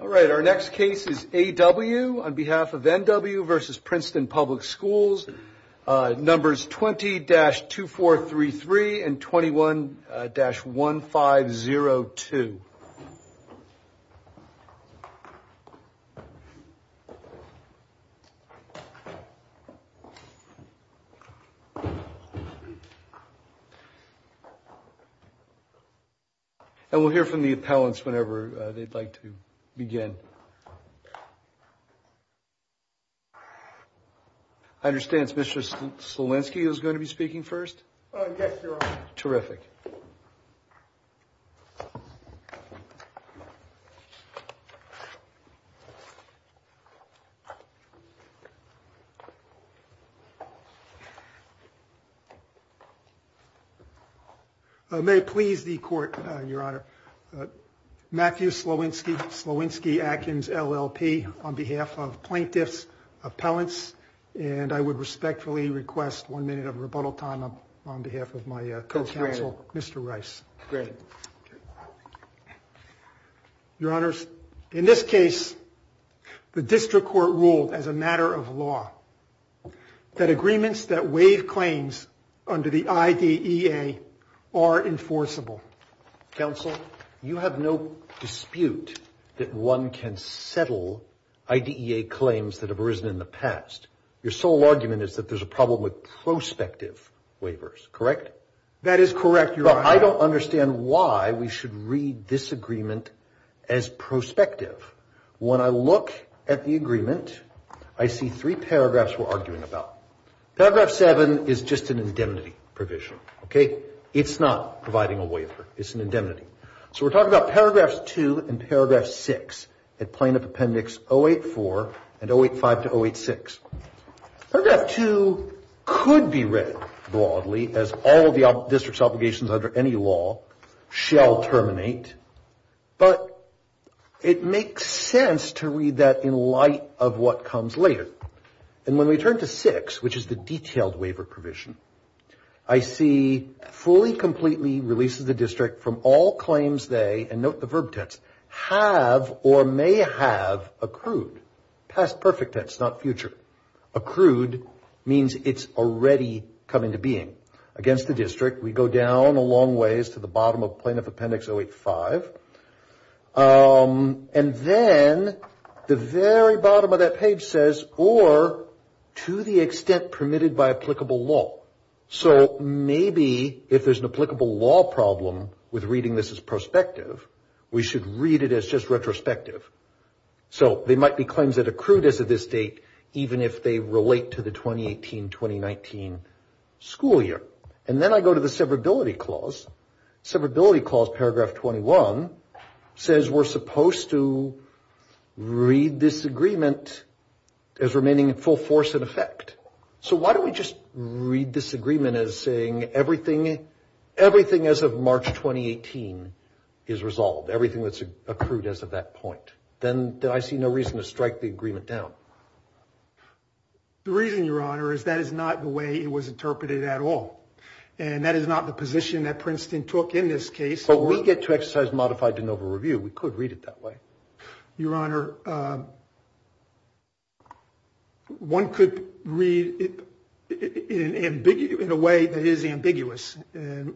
All right, our next case is A.W. on behalf of N.W. v. Princeton Public Schools. Numbers 20-2433 and 21-1502. And we'll hear from the appellants whenever they'd like to begin. I understand it's Mr. Slolinski who's going to be speaking first? Yes, Your Honor. Terrific. May it please the Court, Your Honor. Matthew Slolinski, Slolinski-Atkins LLP, on behalf of plaintiffs, appellants. And I would respectfully request one minute of rebuttal time on behalf of my co-counsel, Mr. Rice. Granted. Your Honors, in this case, the district court ruled as a matter of law that agreements that waive claims under the IDEA are enforceable. Counsel, you have no dispute that one can settle IDEA claims that have arisen in the past. Your sole argument is that there's a problem with prospective waivers, correct? That is correct, Your Honor. But I don't understand why we should read this agreement as prospective. When I look at the agreement, I see three paragraphs we're arguing about. Paragraph 7 is just an indemnity provision, okay? It's not providing a waiver. It's an indemnity. So we're talking about paragraphs 2 and paragraph 6 at plaintiff appendix 084 and 085 to 086. Paragraph 2 could be read broadly as all of the district's obligations under any law shall terminate. But it makes sense to read that in light of what comes later. And when we turn to 6, which is the detailed waiver provision, I see fully, completely releases the district from all claims they, and note the verb tense, have or may have accrued. Past perfect tense, not future. Accrued means it's already come into being. Against the district, we go down a long ways to the bottom of plaintiff appendix 085. And then the very bottom of that page says, or to the extent permitted by applicable law. So maybe if there's an applicable law problem with reading this as prospective, we should read it as just retrospective. So there might be claims that accrued as of this date, even if they relate to the 2018-2019 school year. And then I go to the severability clause. Severability clause, paragraph 21, says we're supposed to read this agreement as remaining in full force in effect. So why don't we just read this agreement as saying everything as of March 2018 is resolved, everything that's accrued as of that point. Then I see no reason to strike the agreement down. The reason, Your Honor, is that is not the way it was interpreted at all. And that is not the position that Princeton took in this case. But we get to exercise modified de novo review. We could read it that way. Your Honor, one could read it in a way that is ambiguous. And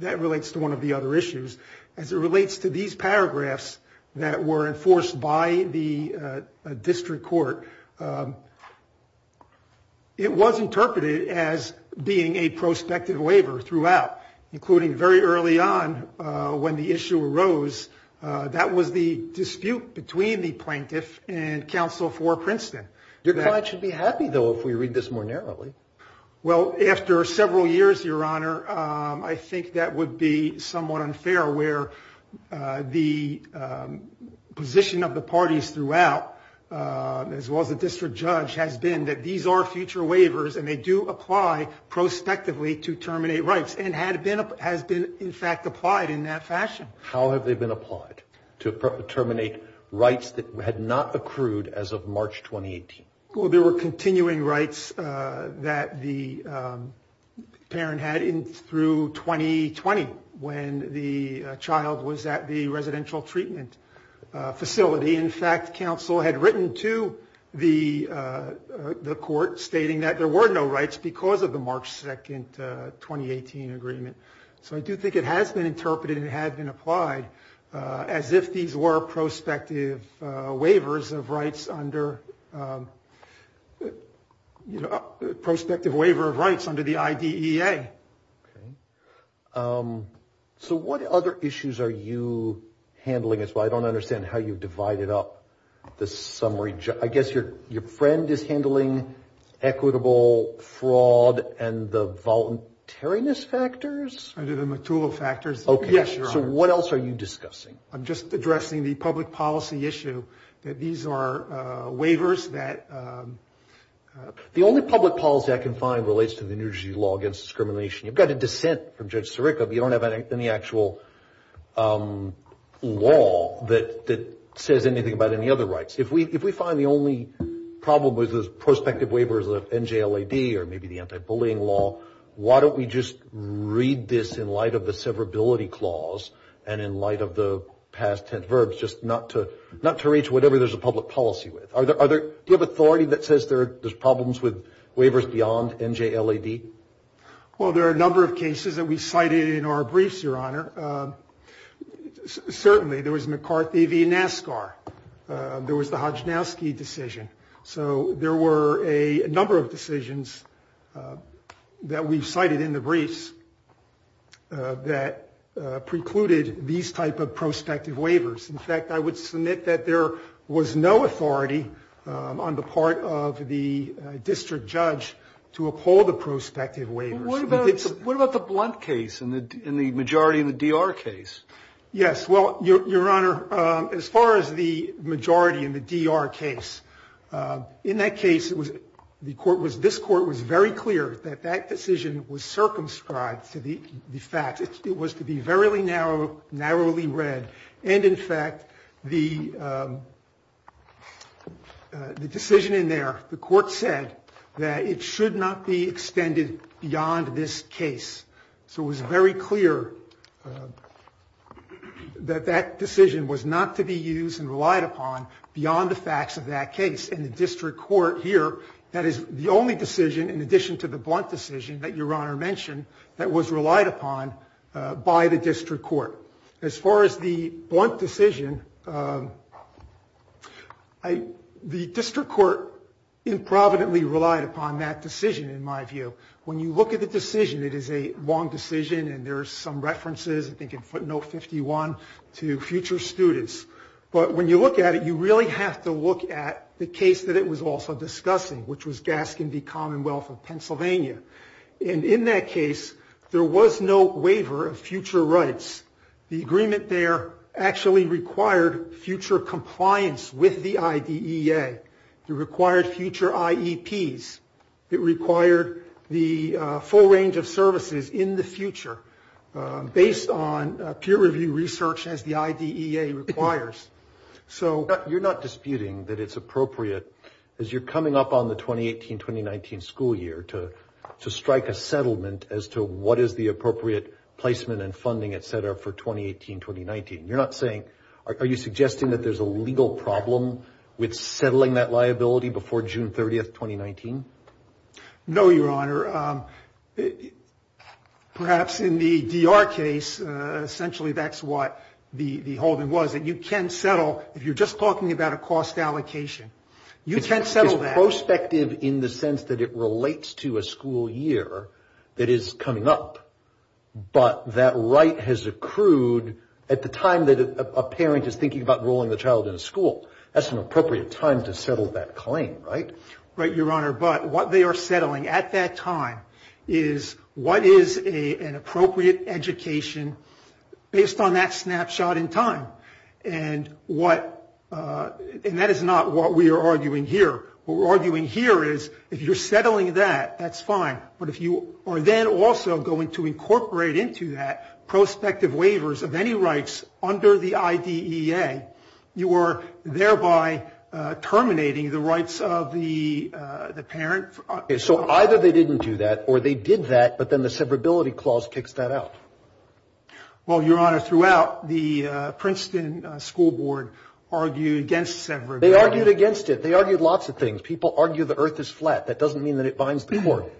that relates to one of the other issues. As it relates to these paragraphs that were enforced by the district court, it was interpreted as being a prospective waiver throughout, including very early on when the issue arose. That was the dispute between the plaintiff and counsel for Princeton. Your client should be happy, though, if we read this more narrowly. Well, after several years, Your Honor, I think that would be somewhat unfair, where the position of the parties throughout, as well as the district judge, has been that these are future waivers and they do apply prospectively to terminate rights, and has been, in fact, applied in that fashion. How have they been applied to terminate rights that had not accrued as of March 2018? Well, there were continuing rights that the parent had through 2020 when the child was at the residential treatment facility. In fact, counsel had written to the court stating that there were no rights because of the March 2, 2018 agreement. So I do think it has been interpreted and it has been applied as if these were prospective waivers of rights under the IDEA. Okay. So what other issues are you handling? I don't understand how you divided up the summary. I guess your friend is handling equitable fraud and the voluntariness factors? I do the material factors. Okay. So what else are you discussing? I'm just addressing the public policy issue that these are waivers that— The only public policy I can find relates to the New Jersey Law Against Discrimination. You've got a dissent from Judge Sirica, but you don't have any actual law that says anything about any other rights. If we find the only problem with the prospective waiver is the NJLAD or maybe the anti-bullying law, why don't we just read this in light of the severability clause and in light of the past ten verbs, just not to reach whatever there's a public policy with? Do you have authority that says there's problems with waivers beyond NJLAD? Well, there are a number of cases that we cited in our briefs, Your Honor. Certainly, there was McCarthy v. NASCAR. There was the Hodjnowski decision. So there were a number of decisions that we cited in the briefs that precluded these type of prospective waivers. In fact, I would submit that there was no authority on the part of the district judge to uphold the prospective waivers. What about the Blunt case and the majority in the DR case? Yes. Well, Your Honor, as far as the majority in the DR case, in that case this court was very clear that that decision was circumscribed to the facts. It was to be verily narrow, narrowly read. And, in fact, the decision in there, the court said, that it should not be extended beyond this case. So it was very clear that that decision was not to be used and relied upon beyond the facts of that case. And the district court here, that is the only decision, in addition to the Blunt decision that Your Honor mentioned, that was relied upon by the district court. As far as the Blunt decision, the district court improvidently relied upon that decision, in my view. When you look at the decision, it is a long decision, and there are some references, I think in footnote 51, to future students. But when you look at it, you really have to look at the case that it was also discussing, which was Gaskin v. Commonwealth of Pennsylvania. And in that case, there was no waiver of future rights. The agreement there actually required future compliance with the IDEA. It required future IEPs. It required the full range of services in the future, based on peer review research, as the IDEA requires. So you're not disputing that it's appropriate, as you're coming up on the 2018-2019 school year, to strike a settlement as to what is the appropriate placement and funding, et cetera, for 2018-2019. You're not saying, are you suggesting that there's a legal problem with settling that liability before June 30, 2019? No, Your Honor. Perhaps in the DR case, essentially that's what the holding was, that you can settle if you're just talking about a cost allocation. You can settle that. It's prospective in the sense that it relates to a school year that is coming up, but that right has accrued at the time that a parent is thinking about enrolling the child in a school. That's an appropriate time to settle that claim, right? Right, Your Honor, but what they are settling at that time is what is an appropriate education based on that snapshot in time. And that is not what we are arguing here. What we're arguing here is if you're settling that, that's fine. But if you are then also going to incorporate into that prospective waivers of any rights under the IDEA, you are thereby terminating the rights of the parent. So either they didn't do that or they did that, but then the severability clause kicks that out. Well, Your Honor, throughout, the Princeton School Board argued against severability. They argued against it. They argued lots of things. People argue the earth is flat. That doesn't mean that it binds the court.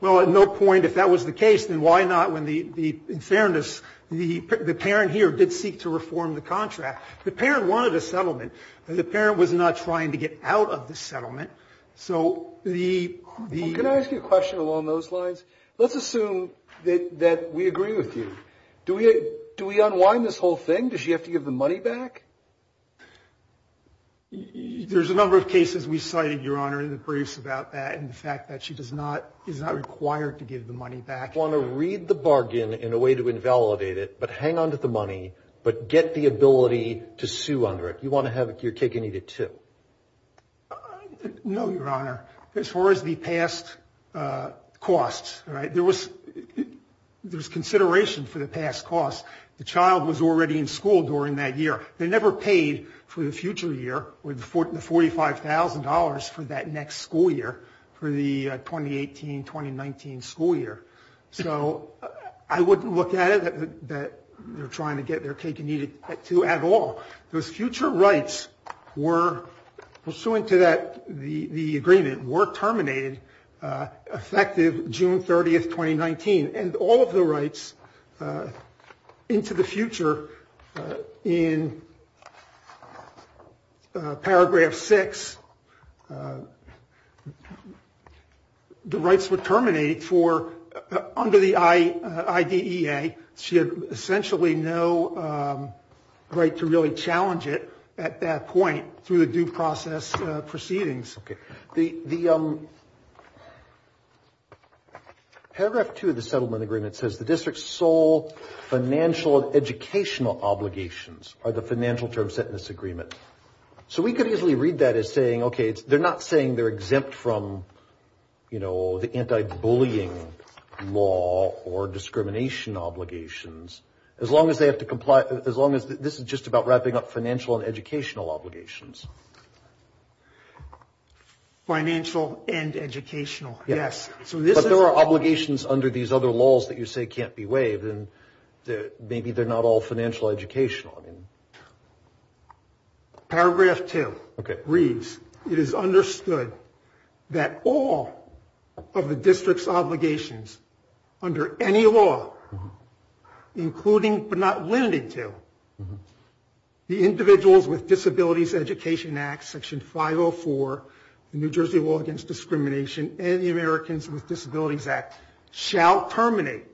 Well, at no point, if that was the case, then why not when the, in fairness, the parent here did seek to reform the contract. The parent wanted a settlement. The parent was not trying to get out of the settlement. So the... Can I ask you a question along those lines? Let's assume that we agree with you. Do we unwind this whole thing? Does she have to give the money back? There's a number of cases we cited, Your Honor, in the briefs about that and the fact that she does not, is not required to give the money back. You want to read the bargain in a way to invalidate it, but hang on to the money, but get the ability to sue under it. You want to have your cake and eat it, too. No, Your Honor. As far as the past costs, there was consideration for the past costs. The child was already in school during that year. They never paid for the future year with the $45,000 for that next school year, for the 2018-2019 school year. So I wouldn't look at it that they're trying to get their cake and eat it, too, at all. Those future rights were, pursuant to that, the agreement, were terminated effective June 30th, 2019, and all of the rights into the future in Paragraph 6, the rights were terminated under the IDEA. She had essentially no right to really challenge it at that point through the due process proceedings. Okay. Paragraph 2 of the settlement agreement says, the district's sole financial and educational obligations are the financial term set in this agreement. So we could easily read that as saying, okay, they're not saying they're exempt from, you know, the anti-bullying law or discrimination obligations, as long as they have to comply, as long as this is just about wrapping up financial and educational obligations. Financial and educational, yes. But there are obligations under these other laws that you say can't be waived, and maybe they're not all financial educational. Paragraph 2 reads, it is understood that all of the district's obligations under any law, including but not limited to, the Individuals with Disabilities Education Act, Section 504, the New Jersey Law Against Discrimination, and the Americans with Disabilities Act, shall terminate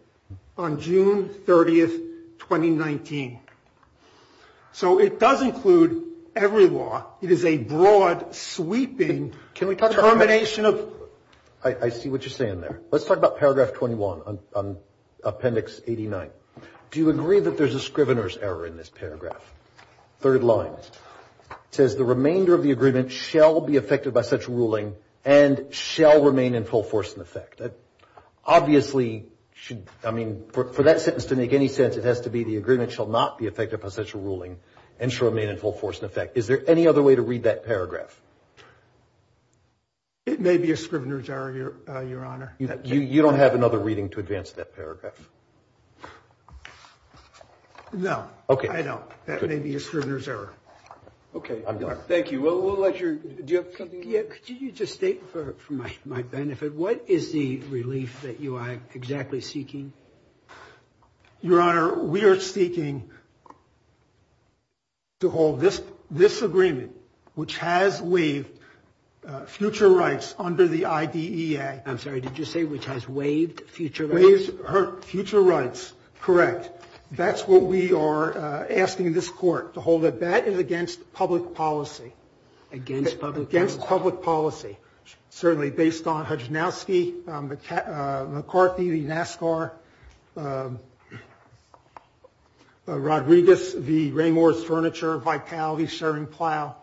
on June 30th, 2019. So it does include every law. It is a broad, sweeping termination of. I see what you're saying there. Let's talk about Paragraph 21 on Appendix 89. Do you agree that there's a scrivener's error in this paragraph? Third line says, the remainder of the agreement shall be affected by such ruling and shall remain in full force and effect. Obviously, I mean, for that sentence to make any sense, it has to be the agreement shall not be affected by such a ruling and shall remain in full force and effect. Is there any other way to read that paragraph? It may be a scrivener's error, Your Honor. You don't have another reading to advance that paragraph? No. Okay. I don't. That may be a scrivener's error. Okay. I'm done. Thank you. Do you have something else? Could you just state for my benefit, what is the relief that you are exactly seeking? Your Honor, we are seeking to hold this agreement, which has waived future rights under the IDEA. I'm sorry. Did you say which has waived future rights? Waived future rights. Correct. That's what we are asking this court to hold it. That is against public policy. Against public policy? Against public policy. Certainly based on Hudgenowski, McCarthy, the NASCAR, Rodriguez, the Raymors Furniture, Vitality, Sharon Plow.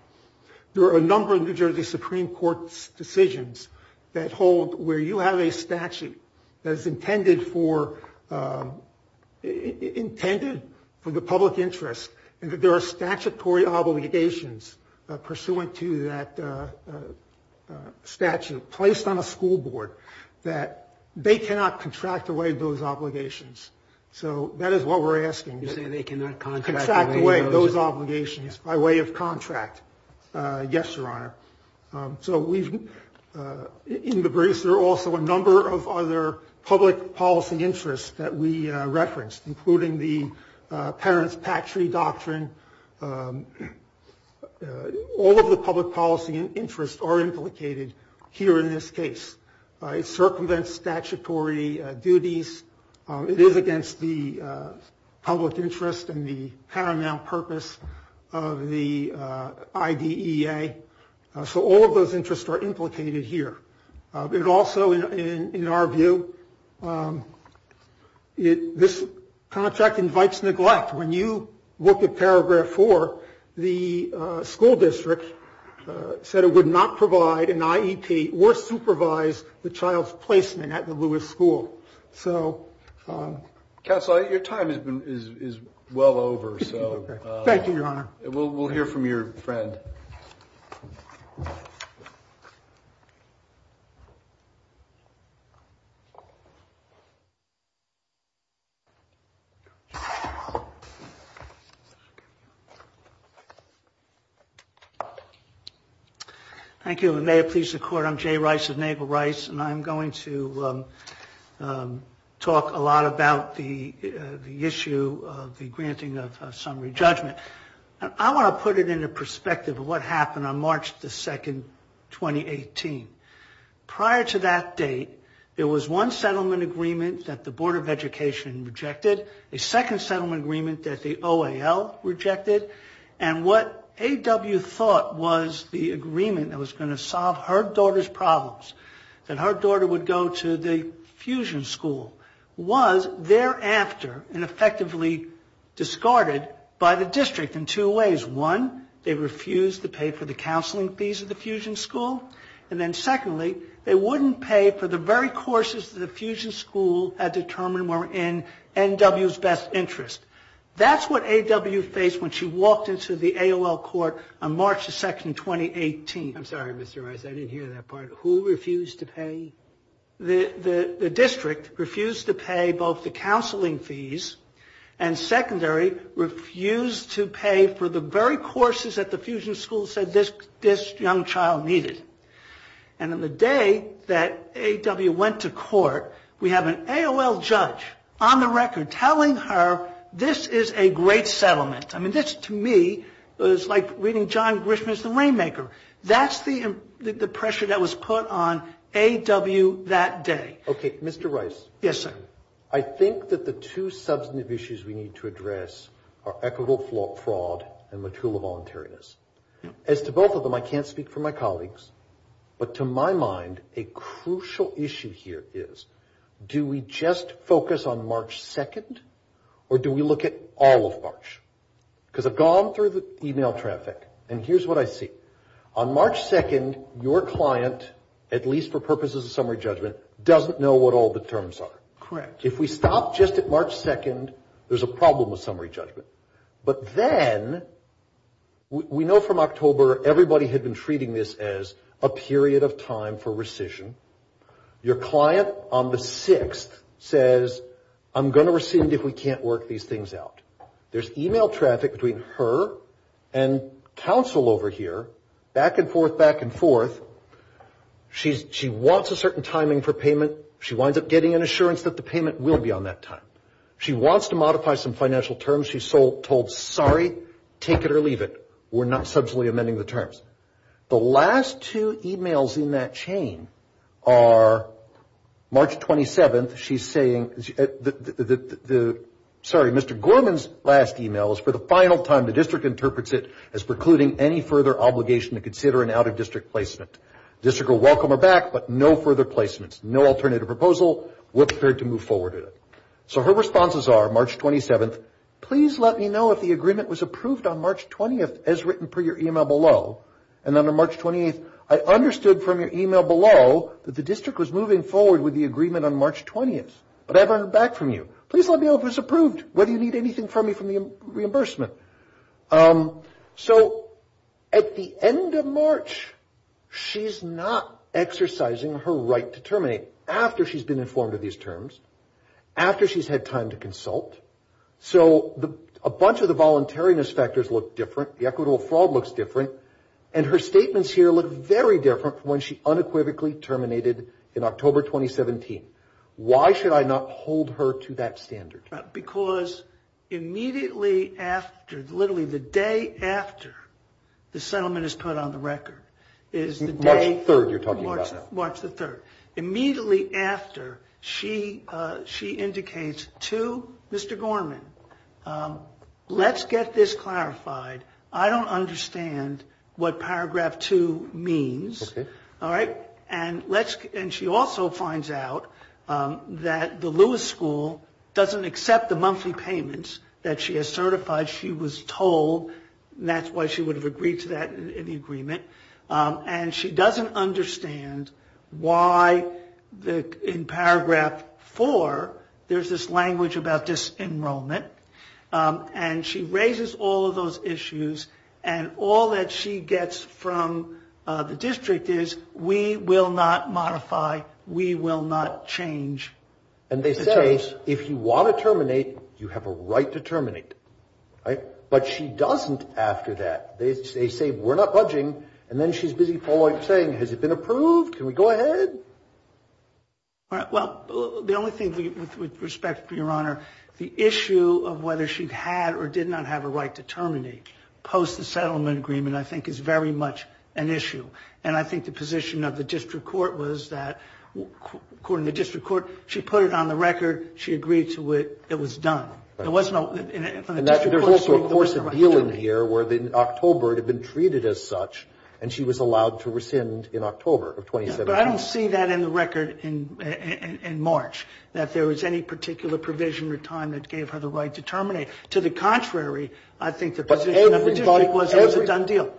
There are a number of New Jersey Supreme Court decisions that hold where you have a statute that is intended for the public interest and that there are statutory obligations pursuant to that statute placed on a school board that they cannot contract away those obligations. So that is what we are asking. You are saying they cannot contract away those obligations? Contract away those obligations by way of contract. Yes, Your Honor. In the briefs, there are also a number of other public policy interests that we referenced, including the parents' patchery doctrine. All of the public policy interests are implicated here in this case. It circumvents statutory duties. It is against the public interest and the paramount purpose of the IDEA. So all of those interests are implicated here. Also, in our view, this contract invites neglect. When you look at paragraph 4, the school district said it would not provide an IEP or supervise the child's placement at the Lewis School. Counsel, your time is well over. Thank you, Your Honor. We will hear from your friend. Thank you. Thank you, and may it please the Court, I'm Jay Rice of Nagle Rice, and I'm going to talk a lot about the issue of the granting of summary judgment. I want to put it into perspective of what happened on March 2, 2018. Prior to that date, there was one settlement agreement that the Board of Education rejected, a second settlement agreement that the OAL rejected, and what A.W. thought was the agreement that was going to solve her daughter's problems, that her daughter would go to the fusion school, was thereafter and effectively discarded by the district in two ways. One, they refused to pay for the counseling fees of the fusion school, and then secondly, they wouldn't pay for the very courses that the fusion school had determined were in N.W.'s best interest. That's what A.W. faced when she walked into the OAL court on March 2, 2018. I'm sorry, Mr. Rice, I didn't hear that part. Who refused to pay? The district refused to pay both the counseling fees and, secondary, refused to pay for the very courses that the fusion school said this young child needed. And on the day that A.W. went to court, we have an AOL judge on the record telling her, this is a great settlement. I mean, this, to me, is like reading John Grisham as The Rainmaker. That's the pressure that was put on A.W. that day. Okay, Mr. Rice. Yes, sir. I think that the two substantive issues we need to address are equitable fraud and material voluntariness. As to both of them, I can't speak for my colleagues, but to my mind, a crucial issue here is, do we just focus on March 2, or do we look at all of March? Because I've gone through the e-mail traffic, and here's what I see. On March 2, your client, at least for purposes of summary judgment, doesn't know what all the terms are. Correct. If we stop just at March 2, there's a problem with summary judgment. But then, we know from October, everybody had been treating this as a period of time for rescission. Your client on the 6th says, I'm going to rescind if we can't work these things out. There's e-mail traffic between her and counsel over here, back and forth, back and forth. She wants a certain timing for payment. She winds up getting an assurance that the payment will be on that time. She wants to modify some financial terms. She's told, sorry, take it or leave it. We're not substantially amending the terms. The last two e-mails in that chain are, March 27, she's saying, sorry, Mr. Gorman's last e-mail is, for the final time, the district interprets it as precluding any further obligation to consider an out-of-district placement. The district will welcome her back, but no further placements, no alternative proposal. We're prepared to move forward with it. So her responses are, March 27, please let me know if the agreement was approved on March 20, as written per your e-mail below. And then on March 28, I understood from your e-mail below that the district was moving forward with the agreement on March 20, but I've heard back from you. Please let me know if it was approved, whether you need anything from me for the reimbursement. So at the end of March, she's not exercising her right to terminate after she's been informed of these terms, after she's had time to consult. So a bunch of the voluntariness factors look different. The equitable fraud looks different. And her statements here look very different from when she unequivocally terminated in October 2017. Why should I not hold her to that standard? Because immediately after, literally the day after the settlement is put on the record, is the day... March 3rd you're talking about. March the 3rd. Immediately after, she indicates to Mr. Gorman, let's get this clarified. I don't understand what paragraph 2 means. Okay. All right? And she also finds out that the Lewis School doesn't accept the monthly payments that she has certified. She was told. That's why she would have agreed to that in the agreement. And she doesn't understand why in paragraph 4 there's this language about disenrollment. And she raises all of those issues. And all that she gets from the district is, we will not modify, we will not change. And they say, if you want to terminate, you have a right to terminate. Right? But she doesn't after that. They say, we're not budging. And then she's busy saying, has it been approved? Can we go ahead? Well, the only thing with respect, Your Honor, the issue of whether she had or did not have a right to terminate post the settlement agreement I think is very much an issue. And I think the position of the district court was that, according to the district court, she put it on the record. She agreed to it. It was done. There was no, in the district court's view, there was no right to terminate. And that would hold to a course of dealing here where in October it had been treated as such, and she was allowed to rescind in October of 2017. But I don't see that in the record in March, that there was any particular provision or time that gave her the right to terminate. To the contrary, I think the position of the district was, it was a done deal.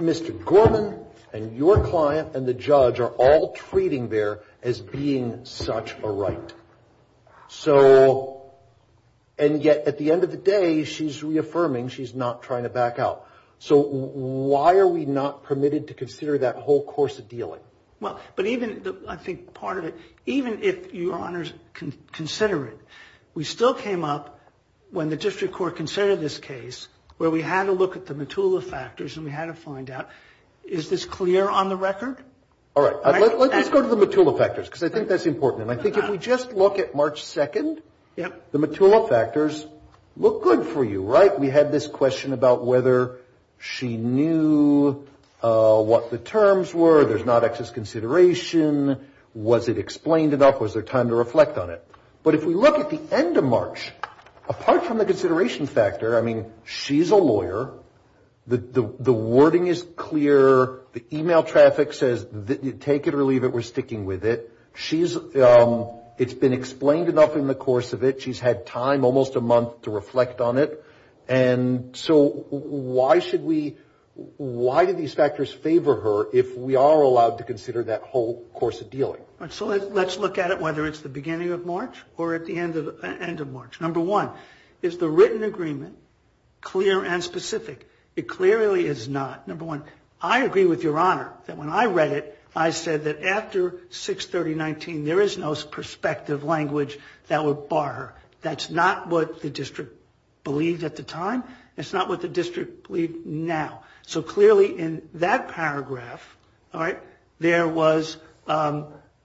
Mr. Gorman and your client and the judge are all treating there as being such a right. So, and yet at the end of the day, she's reaffirming she's not trying to back out. So why are we not permitted to consider that whole course of dealing? Well, but even, I think part of it, even if Your Honors consider it, we still came up when the district court considered this case where we had to look at the Matula factors and we had to find out, is this clear on the record? All right. Let's go to the Matula factors because I think that's important. And I think if we just look at March 2nd, the Matula factors look good for you, right? We had this question about whether she knew what the terms were, there's not excess consideration, was it explained enough, was there time to reflect on it? But if we look at the end of March, apart from the consideration factor, I mean she's a lawyer, the wording is clear, the email traffic says take it or leave it, we're sticking with it. She's, it's been explained enough in the course of it. She's had time, almost a month, to reflect on it. And so why should we, why do these factors favor her if we are allowed to consider that whole course of dealing? So let's look at it whether it's the beginning of March or at the end of March. Number one, is the written agreement clear and specific? It clearly is not. Number one, I agree with Your Honor that when I read it, I said that after 6-30-19 there is no perspective language that would bar her. That's not what the district believed at the time. It's not what the district believes now. So clearly in that paragraph, all right, there was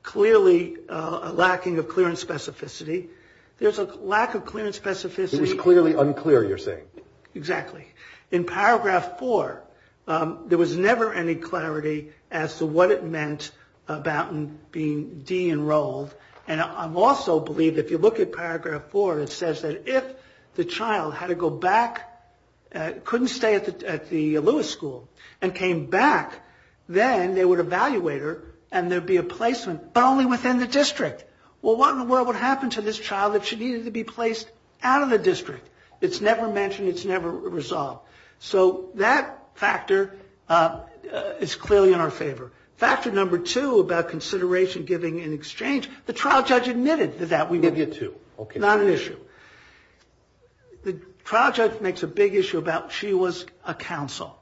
clearly a lacking of clearance specificity. There's a lack of clearance specificity. It was clearly unclear, you're saying. Exactly. In paragraph four, there was never any clarity as to what it meant about being de-enrolled. And I also believe if you look at paragraph four, it says that if the child had to go back, couldn't stay at the Lewis School and came back, but only within the district. Well, what in the world would happen to this child if she needed to be placed out of the district? It's never mentioned. It's never resolved. So that factor is clearly in our favor. Factor number two about consideration, giving, and exchange, the trial judge admitted to that. We give you two. Okay. Not an issue. The trial judge makes a big issue about she was a counsel.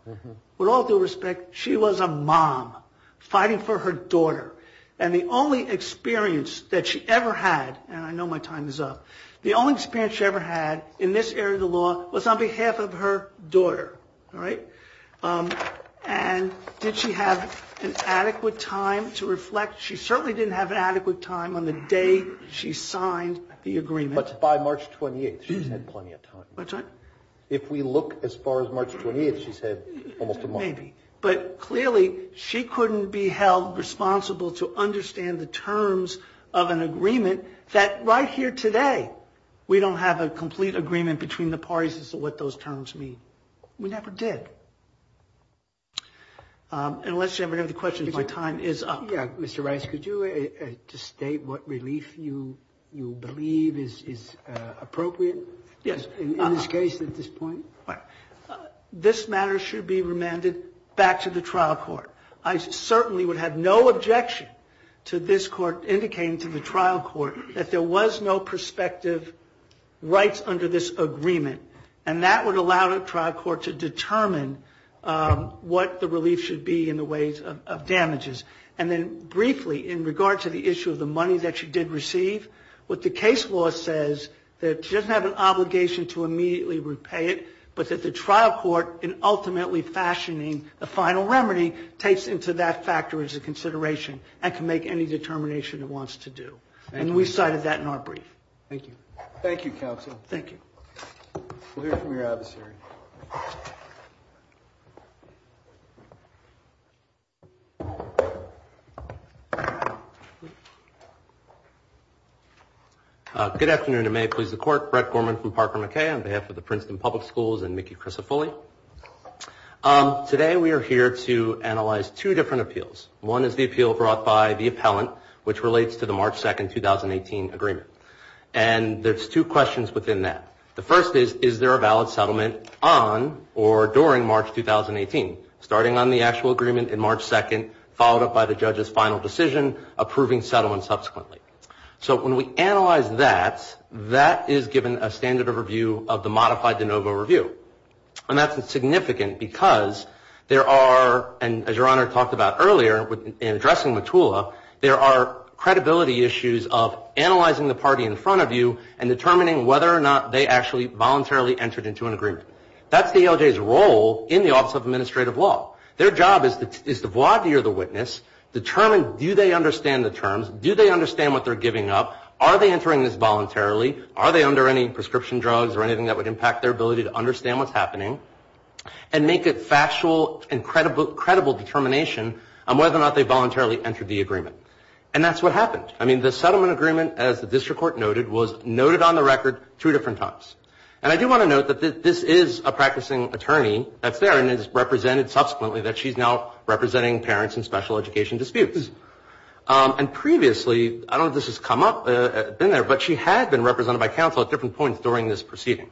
With all due respect, she was a mom fighting for her daughter. And the only experience that she ever had, and I know my time is up, the only experience she ever had in this area of the law was on behalf of her daughter. And did she have an adequate time to reflect? She certainly didn't have an adequate time on the day she signed the agreement. But by March 28th, she's had plenty of time. If we look as far as March 28th, she's had almost a month. Maybe. But clearly, she couldn't be held responsible to understand the terms of an agreement that right here today we don't have a complete agreement between the parties as to what those terms mean. We never did. Unless you have another question, my time is up. Yeah. Mr. Rice, could you just state what relief you believe is appropriate? Yes. In this case, at this point? This matter should be remanded back to the trial court. I certainly would have no objection to this court indicating to the trial court that there was no prospective rights under this agreement. And that would allow the trial court to determine what the relief should be in the ways of damages. And then briefly, in regard to the issue of the money that she did receive, what the case law says is that she doesn't have an obligation to immediately repay it, but that the trial court, in ultimately fashioning the final remedy, takes into that factor as a consideration and can make any determination it wants to do. And we cited that in our brief. Thank you. Thank you, counsel. Thank you. We'll hear from your adversary. Good afternoon, and may it please the court. Brett Gorman from Parker McKay on behalf of the Princeton Public Schools and Mickey Crisafulli. Today, we are here to analyze two different appeals. One is the appeal brought by the appellant, which relates to the March 2, 2018, agreement. And there's two questions within that. And the second is, is there a valid settlement on or during March 2018, starting on the actual agreement in March 2, followed up by the judge's final decision, approving settlement subsequently. So when we analyze that, that is given a standard of review of the modified de novo review. And that's significant because there are, and as Your Honor talked about earlier in addressing Mottula, there are credibility issues of analyzing the party in front of you and determining whether or not they actually voluntarily entered into an agreement. That's the ALJ's role in the Office of Administrative Law. Their job is to voir dire the witness, determine do they understand the terms, do they understand what they're giving up, are they entering this voluntarily, are they under any prescription drugs or anything that would impact their ability to understand what's happening, and make a factual and credible determination on whether or not they voluntarily entered the agreement. And that's what happened. I mean, the settlement agreement, as the district court noted, was noted on the record two different times. And I do want to note that this is a practicing attorney that's there and is represented subsequently, that she's now representing parents in special education disputes. And previously, I don't know if this has come up, been there, but she had been represented by counsel at different points during this proceeding.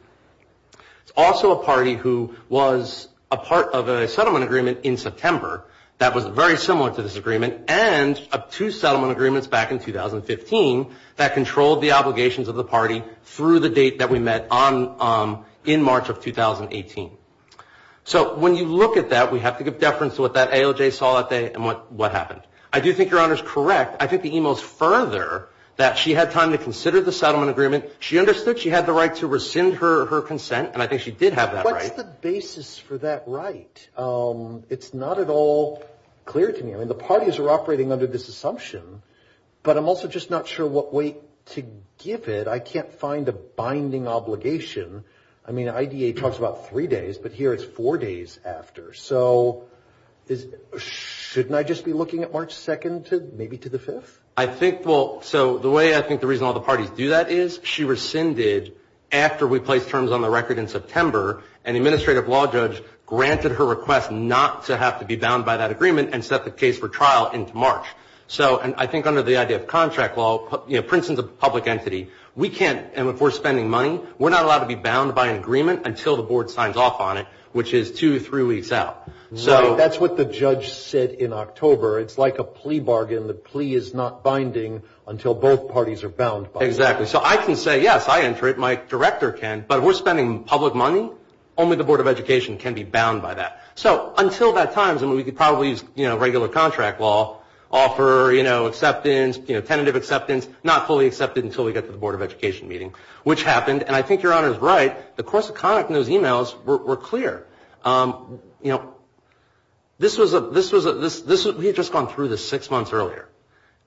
It's also a party who was a part of a settlement agreement in September that was very similar to this agreement and of two settlement agreements back in 2015 that controlled the obligations of the party through the date that we met in March of 2018. So when you look at that, we have to give deference to what that AOJ saw that day and what happened. I do think Your Honor's correct. I think the email's further that she had time to consider the settlement agreement. She understood she had the right to rescind her consent, and I think she did have that right. What's the basis for that right? I mean, the parties are operating under this assumption, but I'm also just not sure what weight to give it. I can't find a binding obligation. I mean, IDA talks about three days, but here it's four days after. So shouldn't I just be looking at March 2nd maybe to the 5th? I think, well, so the way I think the reason all the parties do that is she rescinded after we placed terms on the record in September. An administrative law judge granted her request not to have to be bound by that agreement and set the case for trial into March. So I think under the idea of contract law, you know, Princeton's a public entity. We can't, and if we're spending money, we're not allowed to be bound by an agreement until the board signs off on it, which is two, three weeks out. Right. That's what the judge said in October. It's like a plea bargain. The plea is not binding until both parties are bound by it. Exactly. So I can say, yes, I enter it, my director can, but if we're spending public money, only the Board of Education can be bound by that. So until that time, we could probably use, you know, regular contract law, offer, you know, acceptance, you know, tentative acceptance, not fully accepted until we get to the Board of Education meeting, which happened, and I think Your Honor is right. The course of conduct in those emails were clear. You know, this was a, this was a, we had just gone through this six months earlier.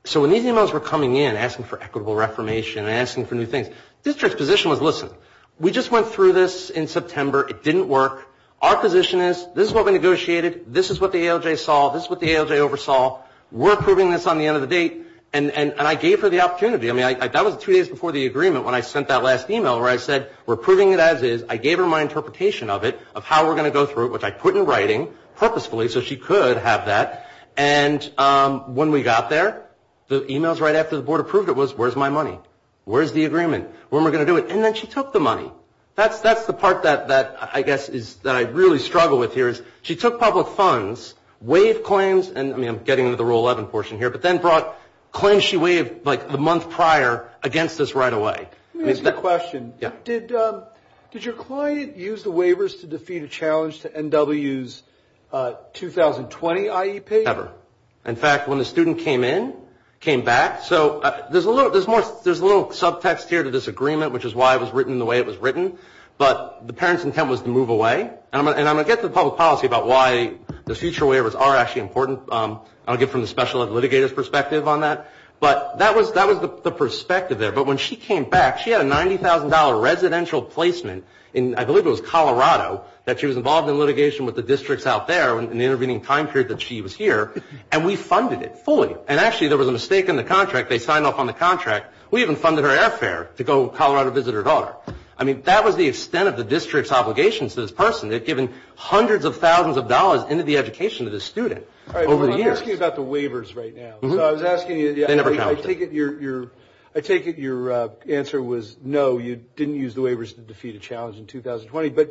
So when these emails were coming in asking for equitable reformation and asking for new things, district's position was, listen, we just went through this in September. It didn't work. Our position is, this is what we negotiated. This is what the ALJ saw. This is what the ALJ oversaw. We're approving this on the end of the date. And I gave her the opportunity. I mean, that was two days before the agreement when I sent that last email where I said, we're approving it as is. I gave her my interpretation of it, of how we're going to go through it, which I put in writing purposefully so she could have that. And when we got there, the emails right after the Board approved it was, where's my money? Where's the agreement? When are we going to do it? And then she took the money. That's the part that I guess is that I really struggle with here is she took public funds, waived claims, and I mean, I'm getting into the Rule 11 portion here, but then brought claims she waived like the month prior against us right away. Let me ask you a question. Did your client use the waivers to defeat a challenge to NW's 2020 IEP? Never. In fact, when the student came in, came back. So there's a little subtext here to this agreement, which is why it was written the way it was written. But the parent's intent was to move away. And I'm going to get to the public policy about why the future waivers are actually important. I'll get from the special ed litigator's perspective on that. But that was the perspective there. But when she came back, she had a $90,000 residential placement in, I believe it was Colorado, that she was involved in litigation with the districts out there in the intervening time period that she was here. And we funded it fully. And actually there was a mistake in the contract. They signed off on the contract. We even funded her airfare to go to Colorado to visit her daughter. I mean, that was the extent of the district's obligations to this person. They've given hundreds of thousands of dollars into the education of this student over the years. I'm asking you about the waivers right now. So I was asking you, I take it your answer was no, you didn't use the waivers to defeat a challenge in 2020. But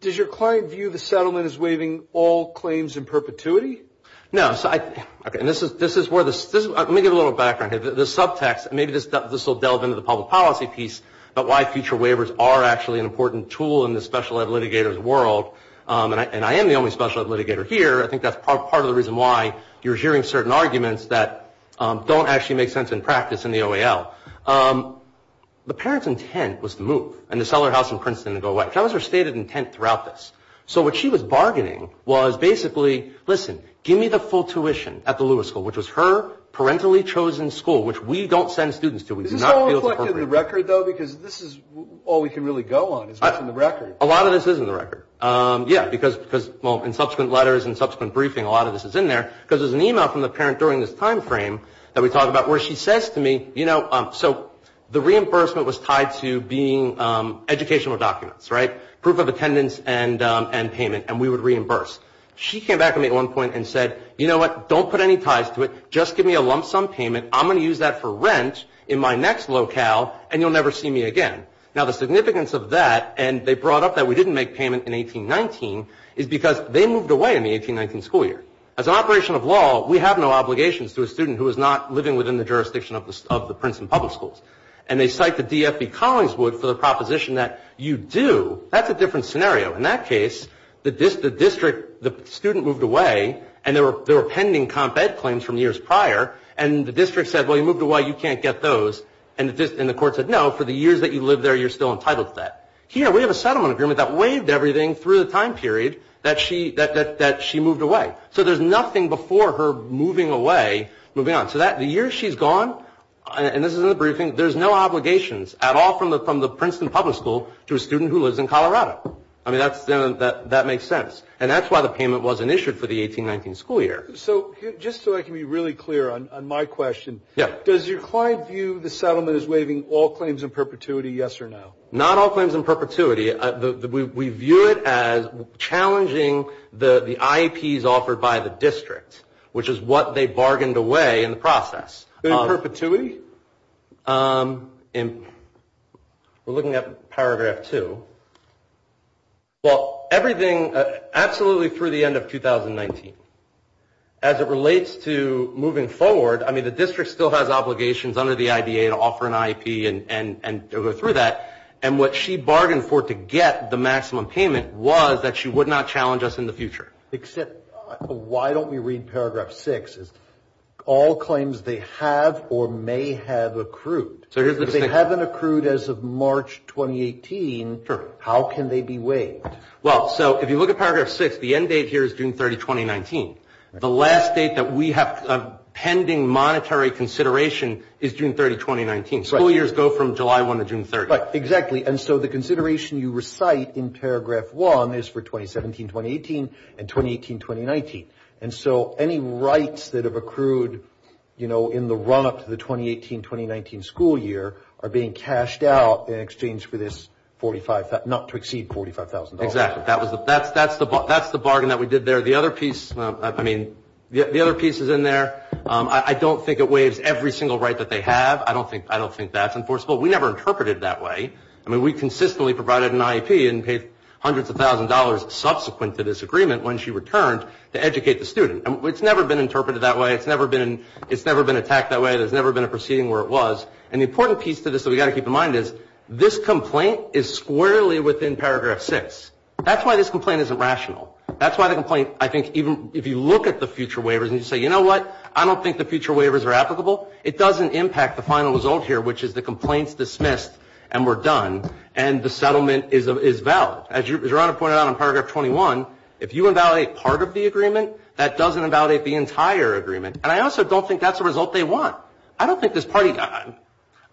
does your client view the settlement as waiving all claims in perpetuity? No. Let me give a little background here. The subtext, maybe this will delve into the public policy piece about why future waivers are actually an important tool in the special ed litigator's world. And I am the only special ed litigator here. I think that's part of the reason why you're hearing certain arguments that don't actually make sense in practice in the OAL. The parent's intent was to move and to sell her house in Princeton and go away. That was her stated intent throughout this. So what she was bargaining was basically, listen, give me the full tuition at the Lewis School, which was her parentally chosen school, which we don't send students to. Is this all reflected in the record, though? Because this is all we can really go on is what's in the record. A lot of this is in the record. Yeah, because, well, in subsequent letters and subsequent briefing, a lot of this is in there. Because there's an email from the parent during this time frame that we talked about where she says to me, you know, so the reimbursement was tied to being educational documents, right? And she said, you know what? Just give me a lump sum of attendance and payment, and we would reimburse. She came back to me at one point and said, you know what? Don't put any ties to it. Just give me a lump sum payment. I'm going to use that for rent in my next locale, and you'll never see me again. Now, the significance of that, and they brought up that we didn't make payment in 1819, is because they moved away in the 1819 school year. As an operation of law, we have no obligations to a student who is not living within the jurisdiction of the Princeton public schools. And they cite the DFB Collingswood for the proposition that you do. That's a different scenario. In that case, the district, the student moved away, and there were pending comp ed claims from years prior. And the district said, well, you moved away. You can't get those. And the court said, no, for the years that you lived there, you're still entitled to that. Here, we have a settlement agreement that waived everything through the time period that she moved away. So there's nothing before her moving away, moving on. So the years she's gone, and this is in the briefing, there's no obligations at all from the Princeton public school to a student who lives in Colorado. I mean, that makes sense. And that's why the payment wasn't issued for the 1819 school year. So just so I can be really clear on my question, does your client view the settlement as waiving all claims in perpetuity, yes or no? Not all claims in perpetuity. We view it as challenging the IEPs offered by the district, which is what they bargained away. In the process. In perpetuity? We're looking at Paragraph 2. Well, everything absolutely through the end of 2019. As it relates to moving forward, I mean, the district still has obligations under the IDA to offer an IEP and go through that. And what she bargained for to get the maximum payment was that she would not challenge us in the future. Except why don't we read Paragraph 6? All claims they have or may have accrued. If they haven't accrued as of March 2018, how can they be waived? Well, so if you look at Paragraph 6, the end date here is June 30, 2019. The last date that we have pending monetary consideration is June 30, 2019. School years go from July 1 to June 30. Exactly. And so the consideration you recite in Paragraph 1 is for 2017-2018 and 2018-2019. And so any rights that have accrued, you know, in the run-up to the 2018-2019 school year are being cashed out in exchange for this $45,000. Not to exceed $45,000. Exactly. That's the bargain that we did there. The other piece is in there. I don't think it waives every single right that they have. I don't think that's enforceable. We never interpreted it that way. I mean, we consistently provided an IEP and paid hundreds of thousands of dollars subsequent to this agreement when she returned to educate the student. It's never been interpreted that way. It's never been attacked that way. There's never been a proceeding where it was. And the important piece to this that we've got to keep in mind is this complaint is squarely within Paragraph 6. That's why this complaint isn't rational. That's why the complaint, I think, even if you look at the future waivers and you say, you know what, I don't think the future waivers are applicable, it doesn't impact the final result here, which is the complaint is dismissed and we're done and the settlement is valid. As Your Honor pointed out in Paragraph 21, if you invalidate part of the agreement, that doesn't invalidate the entire agreement. And I also don't think that's the result they want. I don't think this party got it.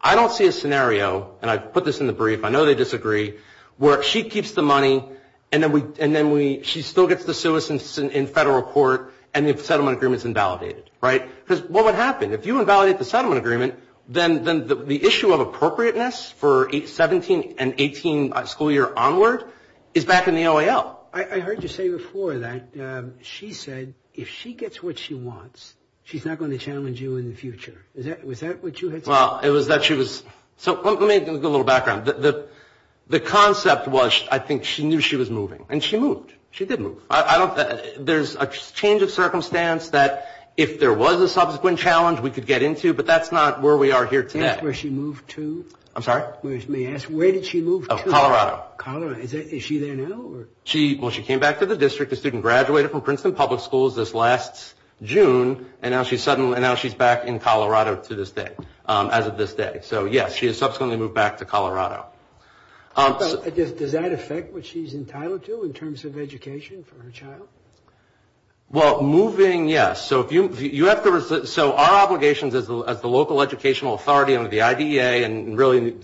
I don't see a scenario, and I put this in the brief, I know they disagree, where she keeps the money and then she still gets the citizens in federal court and the settlement agreement is invalidated, right? Because what would happen? If you invalidate the settlement agreement, then the issue of appropriateness for 17 and 18 school year onward is back in the OAL. I heard you say before that she said if she gets what she wants, she's not going to challenge you in the future. Was that what you had said? Well, it was that she was. So let me give a little background. The concept was I think she knew she was moving. And she moved. She did move. There's a change of circumstance that if there was a subsequent challenge, we could get into. But that's not where we are here today. Where she moved to? I'm sorry? May I ask, where did she move to? Colorado. Is she there now? Well, she came back to the district. The student graduated from Princeton Public Schools this last June. And now she's back in Colorado to this day, as of this day. So yes, she has subsequently moved back to Colorado. Does that affect what she's entitled to in terms of education for her child? Well, moving, yes. So our obligations as the local educational authority under the IDEA, and really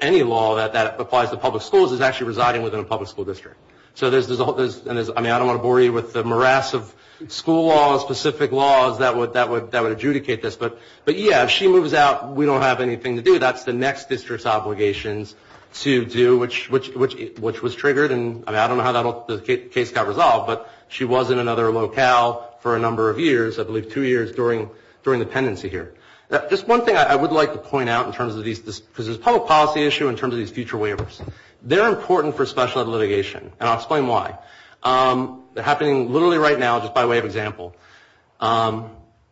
any law that applies to public schools is actually residing within a public school district. So I don't want to bore you with the morass of school laws, specific laws that would adjudicate this. But, yeah, if she moves out, we don't have anything to do. That's the next district's obligations to do, which was triggered. And I don't know how the case got resolved, but she was in another locale for a number of years, I believe two years, during the pendency here. Just one thing I would like to point out in terms of these, because this is a public policy issue in terms of these future waivers. They're important for special ed litigation, and I'll explain why. They're happening literally right now, just by way of example.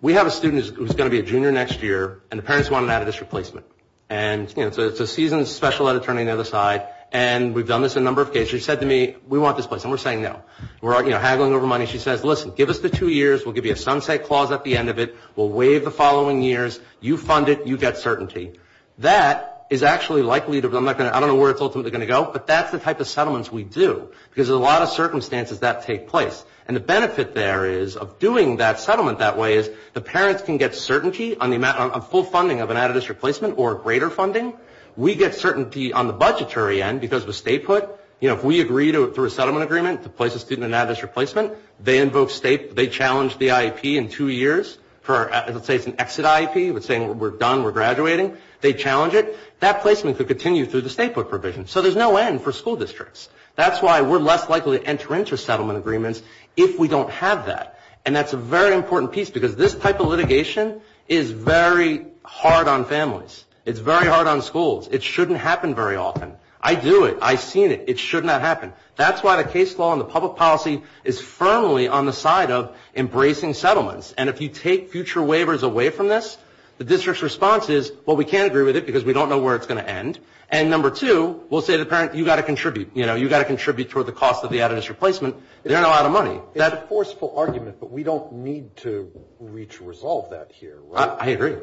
We have a student who's going to be a junior next year, and the parents want an out-of-district placement. And, you know, so it's a seasoned special ed attorney on the other side, and we've done this a number of cases. She said to me, we want this place, and we're saying no. We're, you know, haggling over money. She says, listen, give us the two years. We'll give you a sunset clause at the end of it. We'll waive the following years. You fund it. You get certainty. That is actually likely to, I'm not going to, I don't know where it's ultimately going to go, but that's the type of settlements we do, because there's a lot of circumstances that take place. And the benefit there is, of doing that settlement that way, is the parents can get certainty on the amount, on full funding of an out-of-district placement, or greater funding. We get certainty on the budgetary end, because with state put, you know, if we agree through a settlement agreement to place a student in an out-of-district placement, they invoke state, they challenge the IEP in two years for, let's say it's an exit IEP, we're saying we're done, we're graduating. They challenge it. That placement could continue through the state put provision. So there's no end for school districts. That's why we're less likely to enter into settlement agreements if we don't have that. And that's a very important piece, because this type of litigation is very hard on families. It's very hard on schools. It shouldn't happen very often. I do it. I've seen it. It should not happen. That's why the case law and the public policy is firmly on the side of embracing settlements. And if you take future waivers away from this, the district's response is, well, we can't agree with it, because we don't know where it's going to end. And number two, we'll say to the parent, you've got to contribute. You've got to contribute toward the cost of the out-of-district placement. They don't have a lot of money. It's a forceful argument, but we don't need to resolve that here, right? I agree.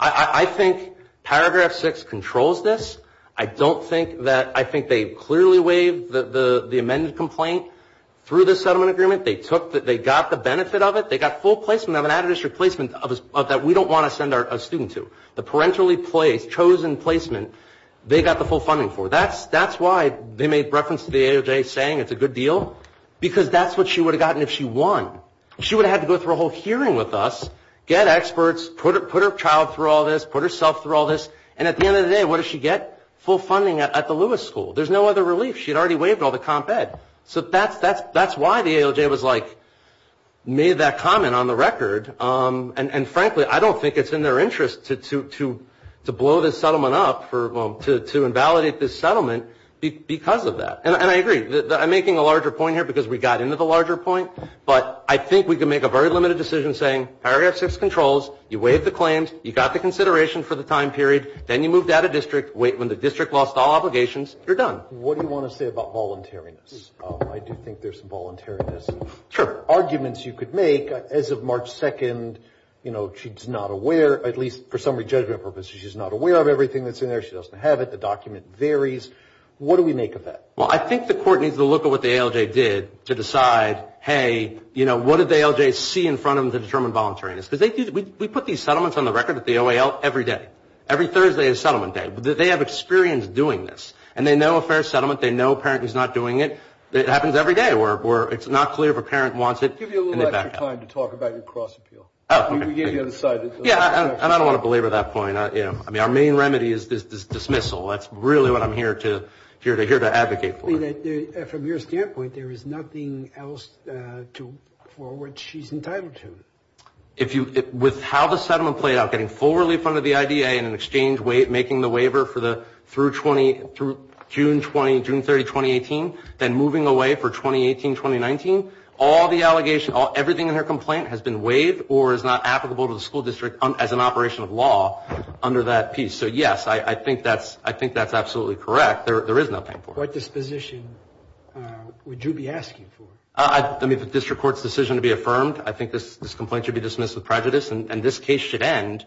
I think paragraph six controls this. I don't think that they clearly waived the amended complaint through the settlement agreement. They got the benefit of it. They got full placement of an out-of-district placement that we don't want to send a student to. The parentally placed, chosen placement, they got the full funding for. That's why they made reference to the ALJ saying it's a good deal, because that's what she would have gotten if she won. She would have had to go through a whole hearing with us, get experts, put her child through all this, put herself through all this, and at the end of the day, what does she get? Full funding at the Lewis School. There's no other relief. She had already waived all the comp ed. So that's why the ALJ was like, made that comment on the record. And frankly, I don't think it's in their interest to blow this settlement up, to invalidate this settlement because of that. And I agree. I'm making a larger point here because we got into the larger point. But I think we can make a very limited decision saying paragraph six controls, you waived the claims, you got the consideration for the time period, then you moved out of district, wait when the district lost all obligations, you're done. What do you want to say about voluntariness? I do think there's voluntariness. Sure. There are arguments you could make. As of March 2nd, you know, she's not aware, at least for summary judgment purposes, she's not aware of everything that's in there. She doesn't have it. The document varies. What do we make of that? Well, I think the court needs to look at what the ALJ did to decide, hey, you know, what did the ALJ see in front of them to determine voluntariness? Because we put these settlements on the record at the OAL every day. Every Thursday is settlement day. They have experience doing this. And they know a fair settlement. They know a parent who's not doing it. It happens every day where it's not clear if a parent wants it and they back out. Give you a little extra time to talk about your cross appeal. We gave you an aside. Yeah, and I don't want to belabor that point. I mean, our main remedy is dismissal. That's really what I'm here to advocate for. From your standpoint, there is nothing else for which she's entitled to. With how the settlement played out, getting full relief under the IDA and in exchange making the waiver through June 30, 2018, then moving away for 2018, 2019, all the allegations, everything in her complaint has been waived or is not applicable to the school district as an operation of law under that piece. So, yes, I think that's absolutely correct. There is nothing for it. What disposition would you be asking for? I mean, if a district court's decision to be affirmed, I think this complaint should be dismissed with prejudice and this case should end.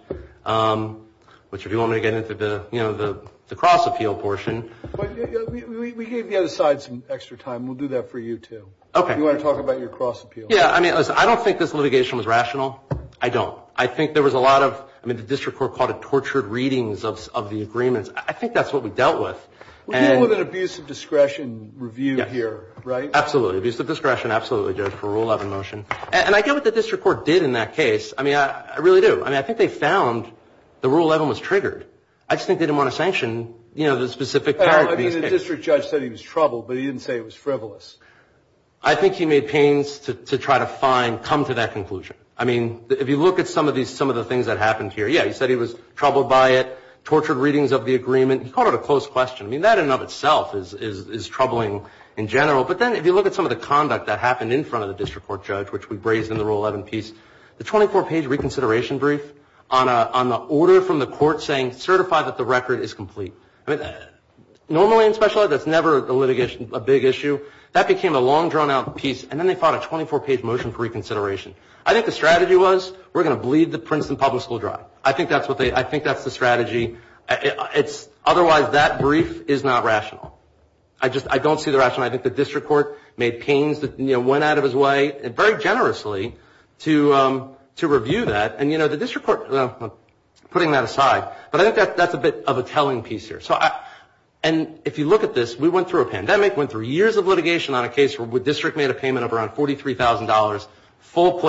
Which, if you want me to get into the cross appeal portion. We gave the other side some extra time. We'll do that for you, too. Okay. If you want to talk about your cross appeal. Yeah, I mean, listen, I don't think this litigation was rational. I don't. I think there was a lot of, I mean, the district court called it tortured readings of the agreements. I think that's what we dealt with. We're dealing with an abuse of discretion review here, right? Absolutely. Abuse of discretion, absolutely, Judge, for Rule 11 motion. And I get what the district court did in that case. I mean, I really do. I mean, I think they found the Rule 11 was triggered. I just think they didn't want to sanction, you know, the specific part. I think the district judge said he was troubled, but he didn't say it was frivolous. I think he made pains to try to find, come to that conclusion. I mean, if you look at some of the things that happened here. Yeah, he said he was troubled by it, tortured readings of the agreement. He called it a close question. I mean, that in and of itself is troubling in general. But then if you look at some of the conduct that happened in front of the district court judge, which we raised in the Rule 11 piece, the 24-page reconsideration brief on the order from the court saying, certify that the record is complete. Normally in special ed, that's never a litigation, a big issue. That became a long, drawn-out piece, and then they fought a 24-page motion for reconsideration. I think the strategy was, we're going to bleed the Princeton Public School dry. I think that's the strategy. Otherwise, that brief is not rational. I don't see the rationale. I think the district court made pains that went out of his way. Very generously to review that. And, you know, the district court, putting that aside, but I think that's a bit of a telling piece here. And if you look at this, we went through a pandemic, went through years of litigation on a case where the district made a payment of around $43,000, full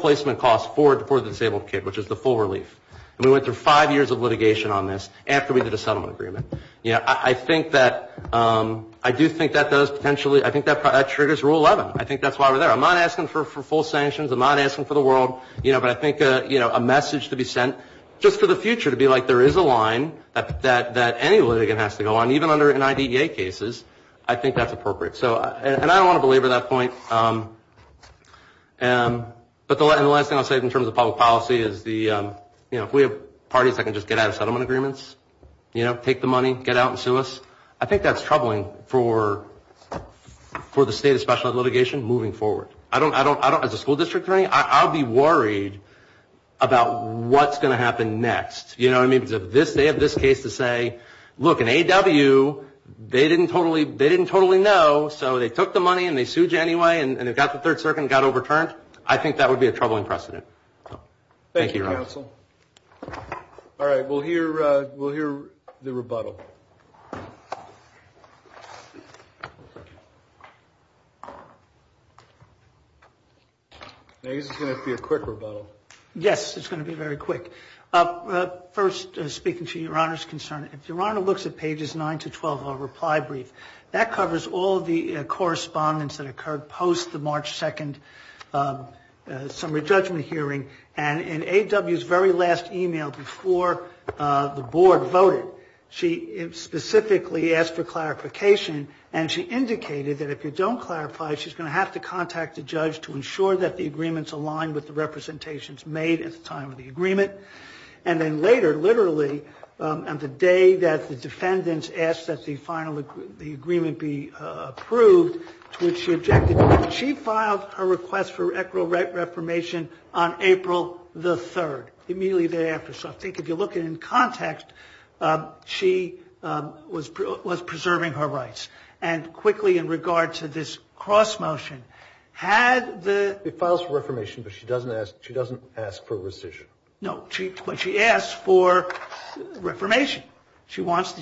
placement costs for the disabled kid, which is the full relief. And we went through five years of litigation on this after we did a settlement agreement. Yeah, I think that, I do think that does potentially, I think that triggers Rule 11. I think that's why we're there. I'm not asking for full sanctions. I'm not asking for the world. You know, but I think, you know, a message to be sent just for the future to be like, there is a line that any litigant has to go on, even under an IDEA cases. I think that's appropriate. So, and I don't want to belabor that point. But the last thing I'll say in terms of public policy is the, you know, if we have parties that can just get out of settlement agreements, you know, take the money, get out and sue us, I think that's troubling for the state of special ed litigation moving forward. I don't, as a school district attorney, I'll be worried about what's going to happen next. You know what I mean? Because if they have this case to say, look, an AW, they didn't totally know, so they took the money and they sued you anyway, and they got the third circuit and got overturned, I think that would be a troubling precedent. Thank you, counsel. All right, we'll hear the rebuttal. I guess it's going to be a quick rebuttal. Yes, it's going to be very quick. First, speaking to Your Honor's concern, if Your Honor looks at pages 9 to 12 of our reply brief, that covers all the correspondence that occurred post the March 2nd summary judgment hearing. And in AW's very last email before the board voted, she specifically asked for clarification, and she indicated that if you don't clarify, she's going to have to contact the judge to ensure that the agreements align with the representations made at the time of the agreement. And then later, literally, on the day that the defendants asked that the agreement be approved, to which she objected, she filed her request for equitable right reformation on April the 3rd, immediately thereafter. So I think if you look at it in context, she was preserving her rights. And quickly, in regard to this cross-motion, had the ---- It files for reformation, but she doesn't ask for rescission. No, but she asks for reformation. She wants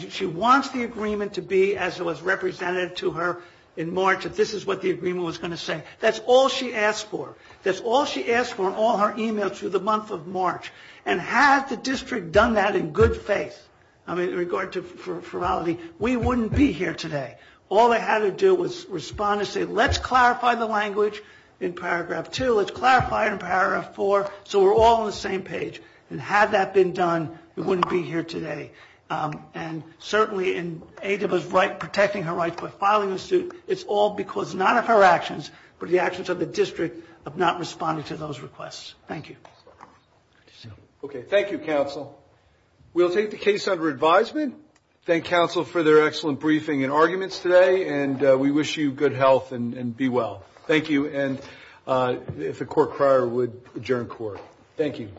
the agreement to be as it was represented to her in March, that this is what the agreement was going to say. That's all she asked for. That's all she asked for in all her emails through the month of March. And had the district done that in good faith, I mean, in regard to ferality, we wouldn't be here today. All they had to do was respond and say, let's clarify the language in paragraph 2, let's clarify it in paragraph 4, so we're all on the same page. And had that been done, we wouldn't be here today. And certainly in aid of us protecting her rights by filing the suit, it's all because not of her actions, but the actions of the district of not responding to those requests. Thank you. Okay. Thank you, counsel. We'll take the case under advisement. Thank counsel for their excellent briefing and arguments today. And we wish you good health and be well. Thank you. And if the court prior would adjourn court. Thank you.